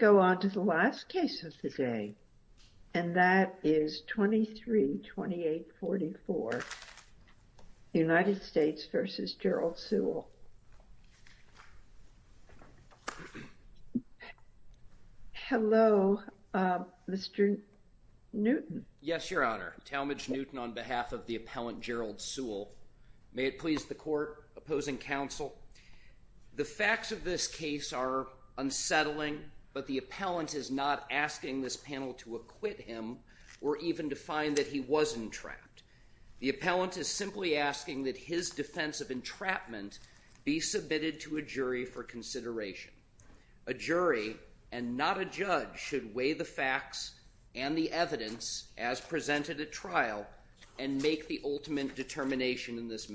Hello, Mr. Newton Yes, Your Honor, Talmadge Newton on behalf of the appellant Gerald Sewell. May it please the Court, Opposing Counsel, the facts of this case are unsettling, but the appellant is not asking this panel to acquit him or even to find that he wasn't trapped. The appellant is simply asking that his defense of entrapment be submitted to a jury for consideration. A jury, and not a judge, should weigh the facts and the evidence as presented at trial and make the ultimate determination in this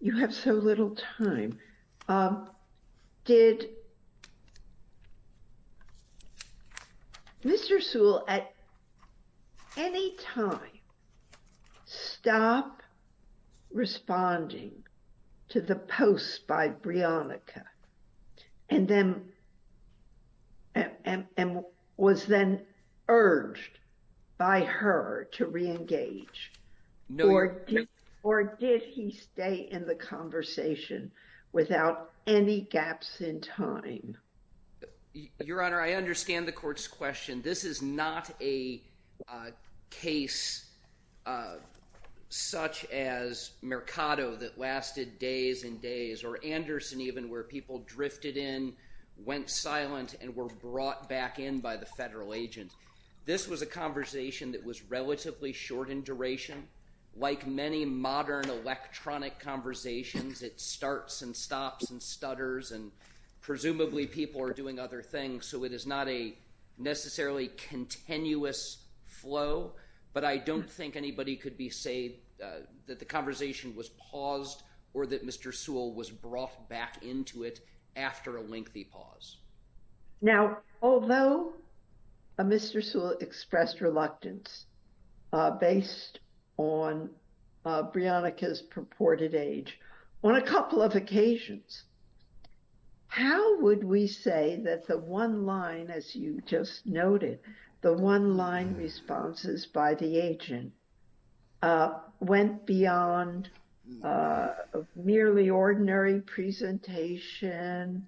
you have so little time. Did Mr. Sewell at any time stop responding to the post by Brionica and then was then urged by her to re-engage? Or did he stay in the conversation without any gaps in time? Your Honor, I understand the Court's question. This is not a case such as Mercado that lasted days and days or Anderson even where people drifted in, went silent and were brought back in by the federal agent. This was a conversation that was relatively short in duration. Like many modern electronic conversations, it starts and stops and stutters and presumably people are doing other things, so it is not a necessarily continuous flow, but I don't think anybody could say that the conversation was paused or that Mr. Sewell was brought back into it after a lengthy pause. Now, although Mr. Sewell expressed reluctance based on Brionica's purported age, on a couple of occasions, how would we say that the one line, as you just noted, the one line responses by the agent went beyond a merely ordinary presentation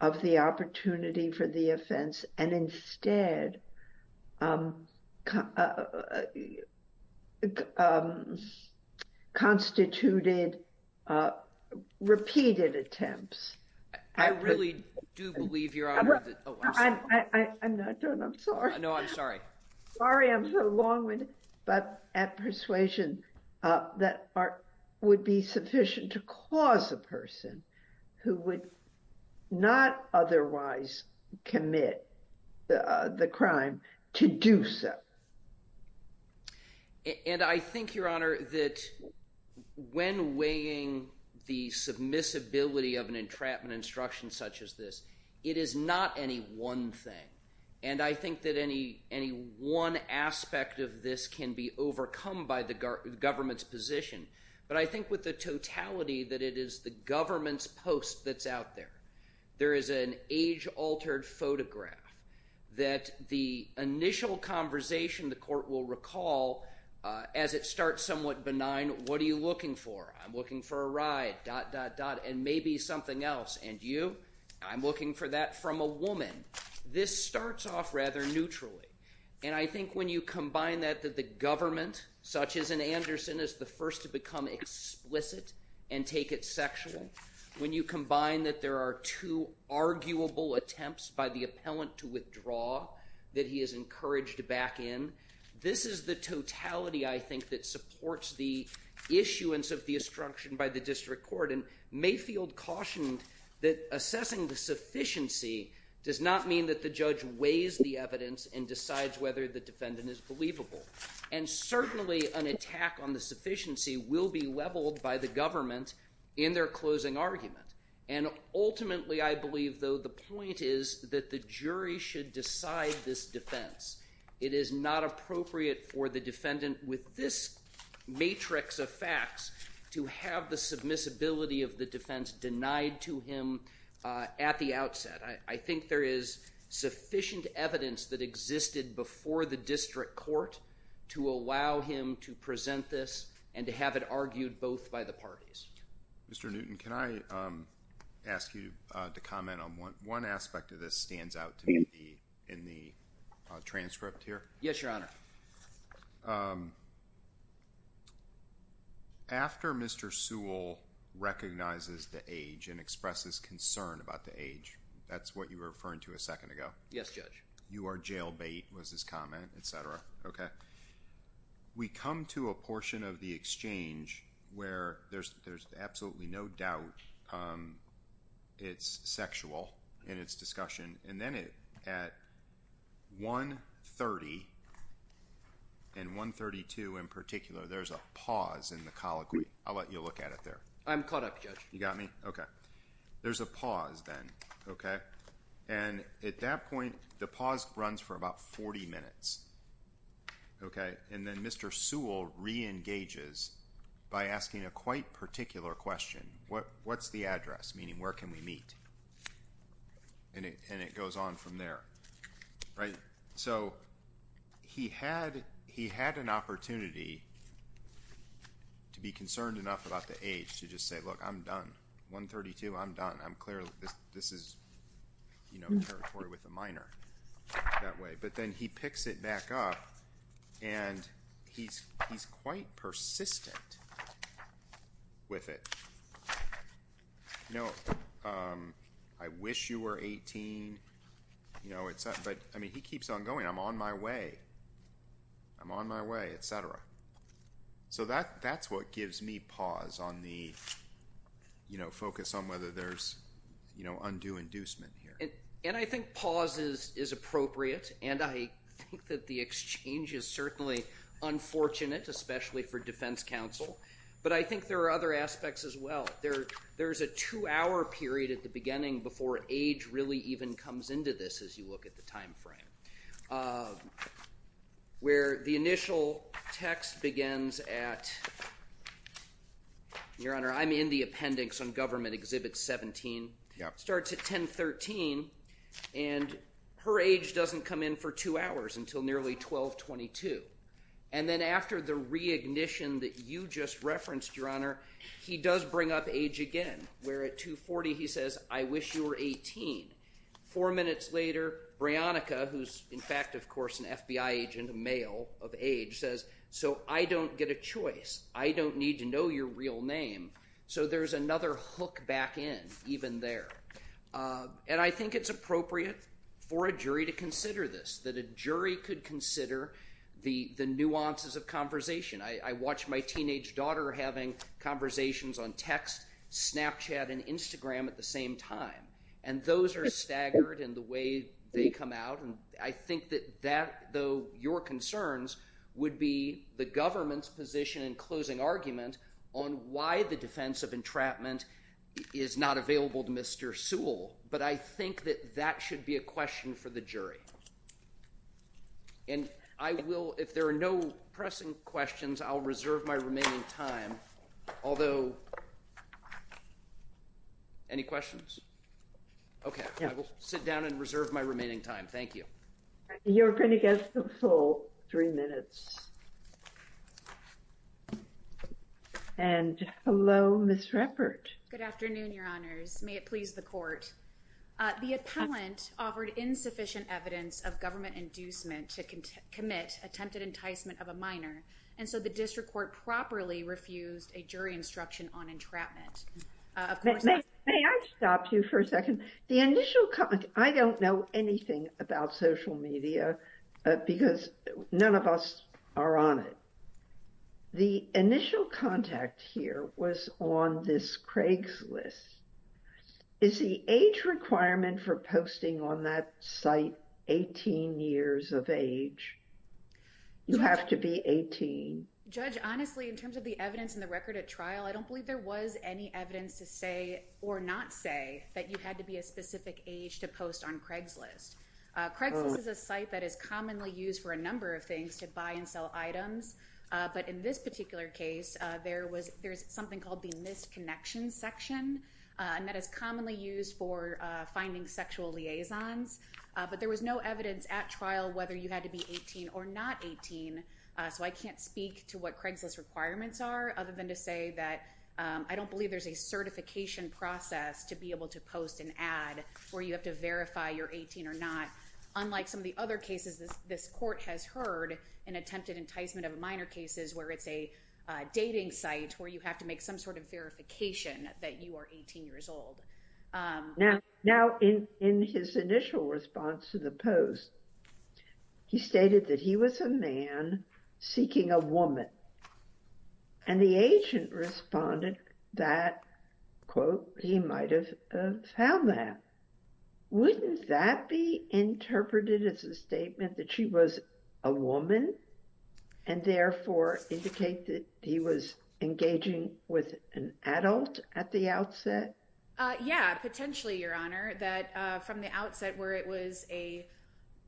of the opportunity for the offense and instead constituted repeated attempts? I really do believe, Your Honor, that... I'm not done. I'm sorry. No, I'm sorry. Sorry I'm so long-winded, but at persuasion that would be sufficient to cause a person who would not otherwise commit the crime to do so. And I think, Your Honor, that when weighing the submissibility of an entrapment instruction such as this, it is not any one thing, and I think that any one aspect of this can be overcome by the government's position, but I think with the totality that it is the government's post that's out there. There is an age-altered photograph that the initial conversation, the court will recall, as it starts somewhat benign, what are you looking for? I'm looking for a ride, dot, dot, dot, and maybe something else, and you? I'm looking for that from a woman. This starts off rather neutrally, and I think when you combine that, that the government, such as in Anderson, is the first to become explicit and take it sexually, when you combine that there are two arguable attempts by the appellant to issuance of the instruction by the district court, and Mayfield cautioned that assessing the sufficiency does not mean that the judge weighs the evidence and decides whether the defendant is believable, and certainly an attack on the sufficiency will be leveled by the government in their closing argument, and ultimately, I believe, though, the point is that the jury should decide this defense. It is not appropriate for the defendant, with this matrix of facts, to have the submissibility of the defense denied to him at the outset. I think there is sufficient evidence that existed before the district court to allow him to present this and to have it argued both by the parties. Mr. Newton, can I ask you to comment on one aspect of this that stands out to me in the transcript here? Yes, Your Honor. After Mr. Sewell recognizes the age and expresses concern about the age, that's what you were referring to a second ago. Yes, Judge. You are jailbait, was his comment, etc., okay? We come to a portion of the exchange where there's absolutely no doubt it's sexual, in its discussion, and then at 1.30 and 1.32 in particular, there's a pause in the colloquy. I'll let you look at it there. I'm caught up, Judge. You got me? Okay. There's a pause then, okay? And at that point, the pause runs for about 40 minutes, okay? And then Mr. Sewell re-engages by asking a quite particular question. What's the address, meaning where can we meet? And it goes on from there, right? So he had an opportunity to be concerned enough about the age to just say, look, I'm done. 1.32, I'm done. I'm clear this is, you know, territory with a minor that way. But then he picks it back up and he's quite persistent with it. You know, I wish you were 18, you know, but I mean, he keeps on going. I'm on my way. I'm on my way, etc. So that's what gives me pause on the, you know, focus on whether there's, you know, undue inducement here. And I think pause is appropriate, and I think that the exchange is unfortunate, especially for defense counsel. But I think there are other aspects as well. There's a two-hour period at the beginning before age really even comes into this, as you look at the time frame, where the initial text begins at, Your Honor, I'm in the appendix on Government Exhibit 17, starts at 10.13, and her age doesn't come in for two hours until nearly 12.22. And then after the reignition that you just referenced, Your Honor, he does bring up age again, where at 2.40 he says, I wish you were 18. Four minutes later, Brionica, who's in fact, of course, an FBI agent, a male of age, says, so I don't get a choice. I don't need to know your real name. So there's another hook back in, even there. And I think it's appropriate for a jury to consider this, that a jury could consider the nuances of conversation. I watch my teenage daughter having conversations on text, Snapchat, and Instagram at the same time. And those are staggered in the way they come out, and I think that that, though your concerns, would be the government's position in closing argument on why the defense of entrapment is not available to Mr. Sewell. But I think that that should be a question for the jury. And I will, if there are no pressing questions, I'll reserve my remaining time. Although, any questions? Okay. I will sit down and reserve my remaining time. Thank you. You're going to get the full three minutes. And hello, Ms. Ruppert. Good afternoon, Your Honors. May it please the court. The appellant offered insufficient evidence of government inducement to commit attempted enticement of a minor, and so the district court properly refused a jury instruction on entrapment. May I stop you for a second? The initial, I don't know anything about social media, because none of us are on it. The initial contact here was on this Craigslist. Is the age requirement for posting on that site 18 years of age? You have to be 18. Judge, honestly, in terms of the evidence in the record at trial, I don't believe there was any evidence to say or not say that you had to be a specific age to post on Craigslist. Craigslist is a site that is commonly used for a number of things to buy and sell items, but in this particular case, there was, there's something called the missed connection section, and that is commonly used for finding sexual liaisons. But there was no evidence at trial whether you had to be 18 or not 18, so I can't speak to what Craigslist's requirements are, other than to say that I don't believe there's a certification process to be able to post an ad where you have to verify you're 18 or not, unlike some of the other cases this court has heard, an attempted enticement of minor cases where it's a dating site where you have to make some sort of verification that you are 18 years old. Now, in his initial response to the post, he stated that he was a man seeking a woman, and the agent responded that, quote, he might have found that. Wouldn't that be interpreted as a statement that she was a woman and therefore indicate that he was engaging with an adult at the outset? Yeah, potentially, Your Honor, that from the outset where it was a,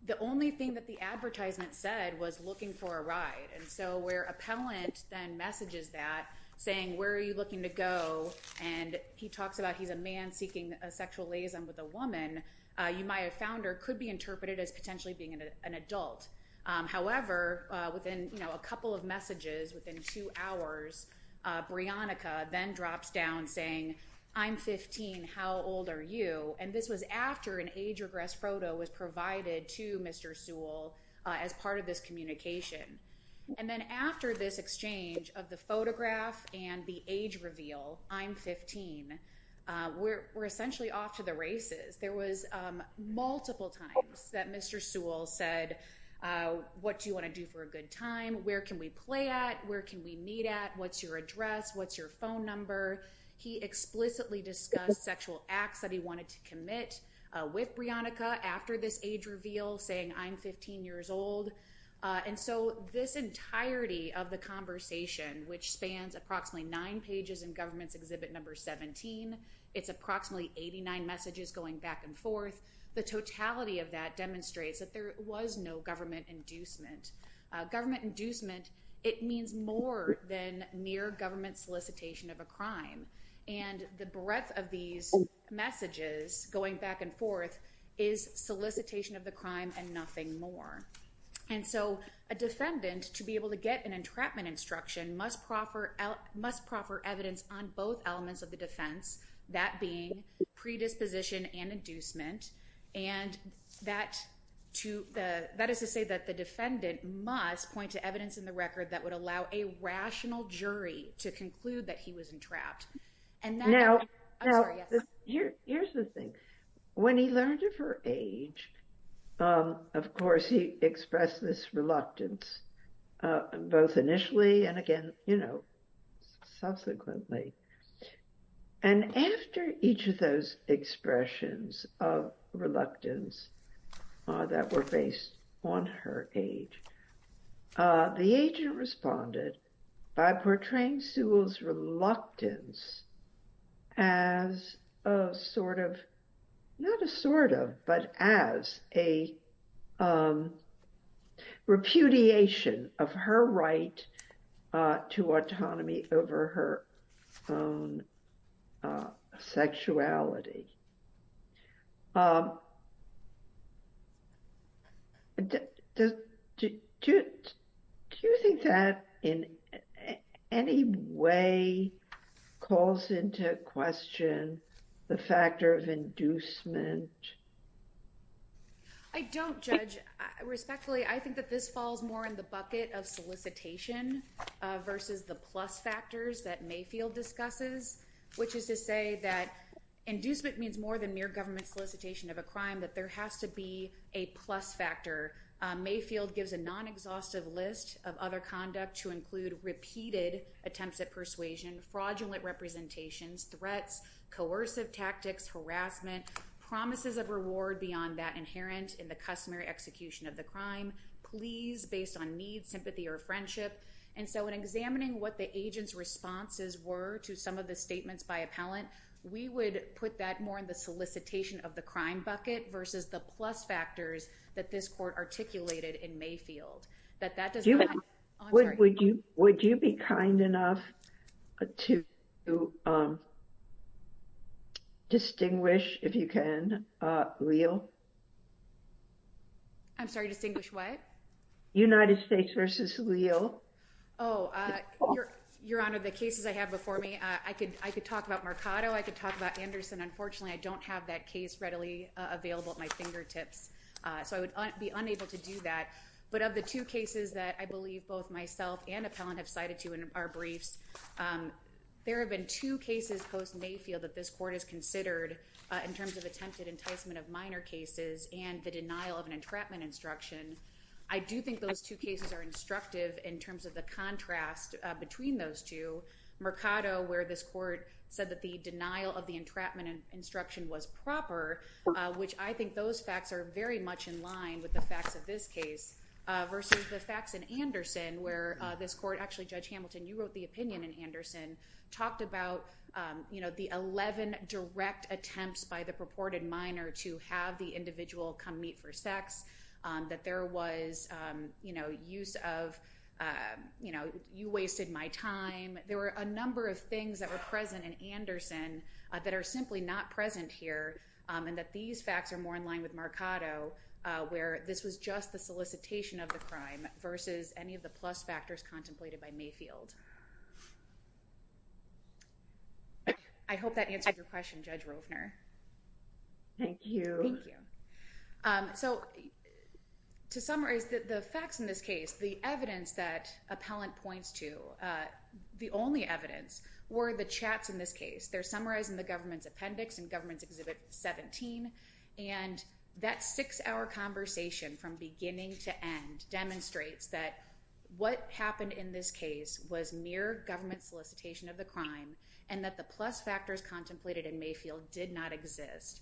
the only thing that the advertisement said was looking for a ride, and so where appellant then messages that saying, where are you looking to go, and he talks about he's a man seeking a sexual liaison with a woman, you might have found her could be interpreted as potentially being an adult. However, within, you know, a couple of messages within two hours, Brionica then drops down saying, I'm 15, how old are you? And this was after an age regress photo was provided to Mr. Sewell as part of this communication. And then after this exchange of photograph and the age reveal, I'm 15, we're essentially off to the races. There was multiple times that Mr. Sewell said, what do you want to do for a good time? Where can we play at? Where can we meet at? What's your address? What's your phone number? He explicitly discussed sexual acts that he wanted to commit with Brionica after this age reveal saying, I'm 15 years old. And so this entirety of the conversation, which spans approximately nine pages in government's exhibit number 17, it's approximately 89 messages going back and forth. The totality of that demonstrates that there was no government inducement. Government inducement, it means more than mere government solicitation of a crime. And the breadth of these messages going back and And so a defendant to be able to get an entrapment instruction must proffer evidence on both elements of the defense, that being predisposition and inducement. And that is to say that the defendant must point to evidence in the record that would allow a rational jury to conclude that he was entrapped. And that- Now, here's the thing. When he learned of her age, of course, he expressed this reluctance, both initially and again, you know, subsequently. And after each of those expressions of reluctance that were based on her age, the agent responded by portraying Sewell's reluctance as a sort of, not a sort of, but as a repudiation of her right to autonomy over her own sexuality. Do you think that in any way calls into question the factor of inducement? I don't, Judge. Respectfully, I think that this falls more in the bucket of solicitation versus the plus factors that Mayfield discusses, which is to say that inducement means more than mere government solicitation of a crime, that there has to be a plus factor. Mayfield gives a non-exhaustive list of other conduct to include repeated attempts at persuasion, fraudulent representations, threats, coercive tactics, harassment, promises of reward beyond that inherent in the customary execution of the crime, pleas based on need, sympathy, or friendship. And so, in examining what the agent's responses were to some of the statements by appellant, we would put that more in the solicitation of the crime bucket versus the plus factors that this court articulated in Mayfield, that that does not- Would you be kind enough to distinguish, if you can, Leal? I'm sorry, distinguish what? United States versus Leal. Oh, Your Honor, the cases I have before me, I could talk about Mercado. I could talk about Anderson. Unfortunately, I don't have that case readily available at my fingertips, so I would be unable to do that. But of the two cases that I believe both myself and appellant have cited to in our briefs, there have been two cases post-Mayfield that this court has considered in terms of attempted enticement of minor cases and the denial of an entrapment instruction. I do think those two cases are instructive in terms of the contrast between those two. Mercado, where this court said that the denial of the entrapment instruction was proper, which I think those facts are very much in line with the facts of this case, versus the facts in Anderson, where this court- Actually, Judge Hamilton, you wrote the opinion in Anderson, talked about the 11 direct attempts by the purported minor to have the individual come meet for sex, that there was use of, you wasted my time. There were a number of things that were in that these facts are more in line with Mercado, where this was just the solicitation of the crime versus any of the plus factors contemplated by Mayfield. I hope that answers your question, Judge Rovner. Thank you. Thank you. So to summarize the facts in this case, the evidence that appellant points to, the only evidence were the chats in this case. They're summarizing the government's appendix and government's exhibit 17, and that six-hour conversation from beginning to end demonstrates that what happened in this case was mere government solicitation of the crime, and that the plus factors contemplated in Mayfield did not exist.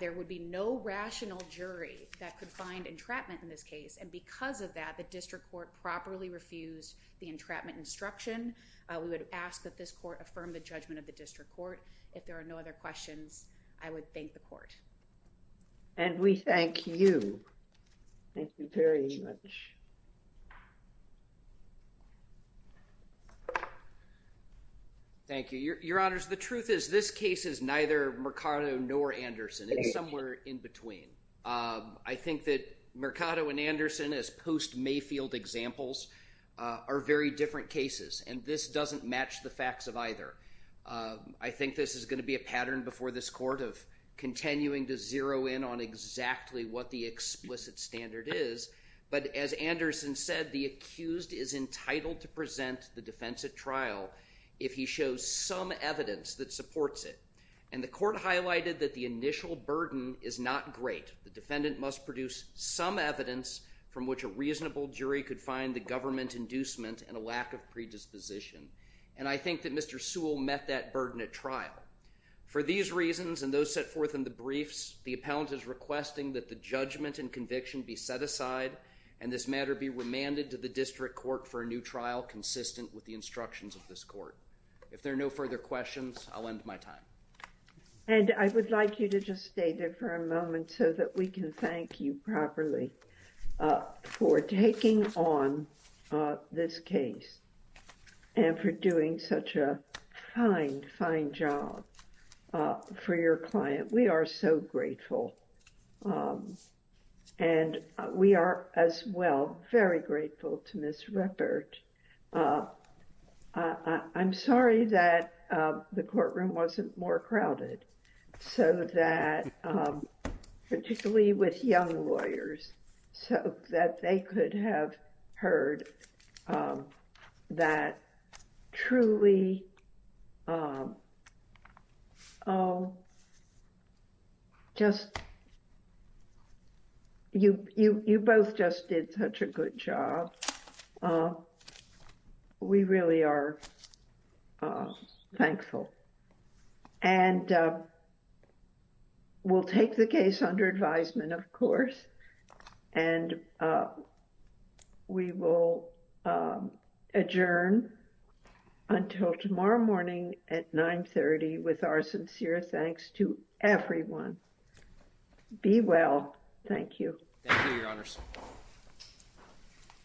There would be no rational jury that could find entrapment in this case, and because of that, the district court properly refused the entrapment instruction. We would ask that this court affirm the judgment of the district court. If there are no other questions, I would thank the court. And we thank you. Thank you very much. Thank you. Your honors, the truth is this case is neither Mercado nor Anderson. It's somewhere in between. I think that Mercado and Anderson as post-Mayfield examples are very different cases, and this doesn't match the facts of either. I think this is going to be a pattern before this court of continuing to zero in on exactly what the explicit standard is, but as Anderson said, the accused is entitled to present the defense at trial if he shows some evidence that supports it, and the court highlighted that the initial burden is not great. The defendant must produce some evidence from which a reasonable jury could find the government inducement and a lack of predisposition, and I think that Mr. Sewell met that burden at trial. For these reasons and those set forth in the briefs, the appellant is requesting that the judgment and conviction be set aside and this matter be remanded to the district court for a new trial consistent with the instructions of this court. If there are no further questions, I'll end my time. And I would like you to just And for doing such a fine, fine job for your client, we are so grateful. And we are as well very grateful to Ms. Ruppert. I'm sorry that the courtroom wasn't more crowded so that, particularly with young lawyers, so that they could have heard that truly, just, you both just did such a good job. We really are thankful. And we'll take the case under advisement, of course, and we will adjourn until tomorrow morning at 930 with our sincere thanks to everyone. Be well. Thank you. Thank you, Your Honors.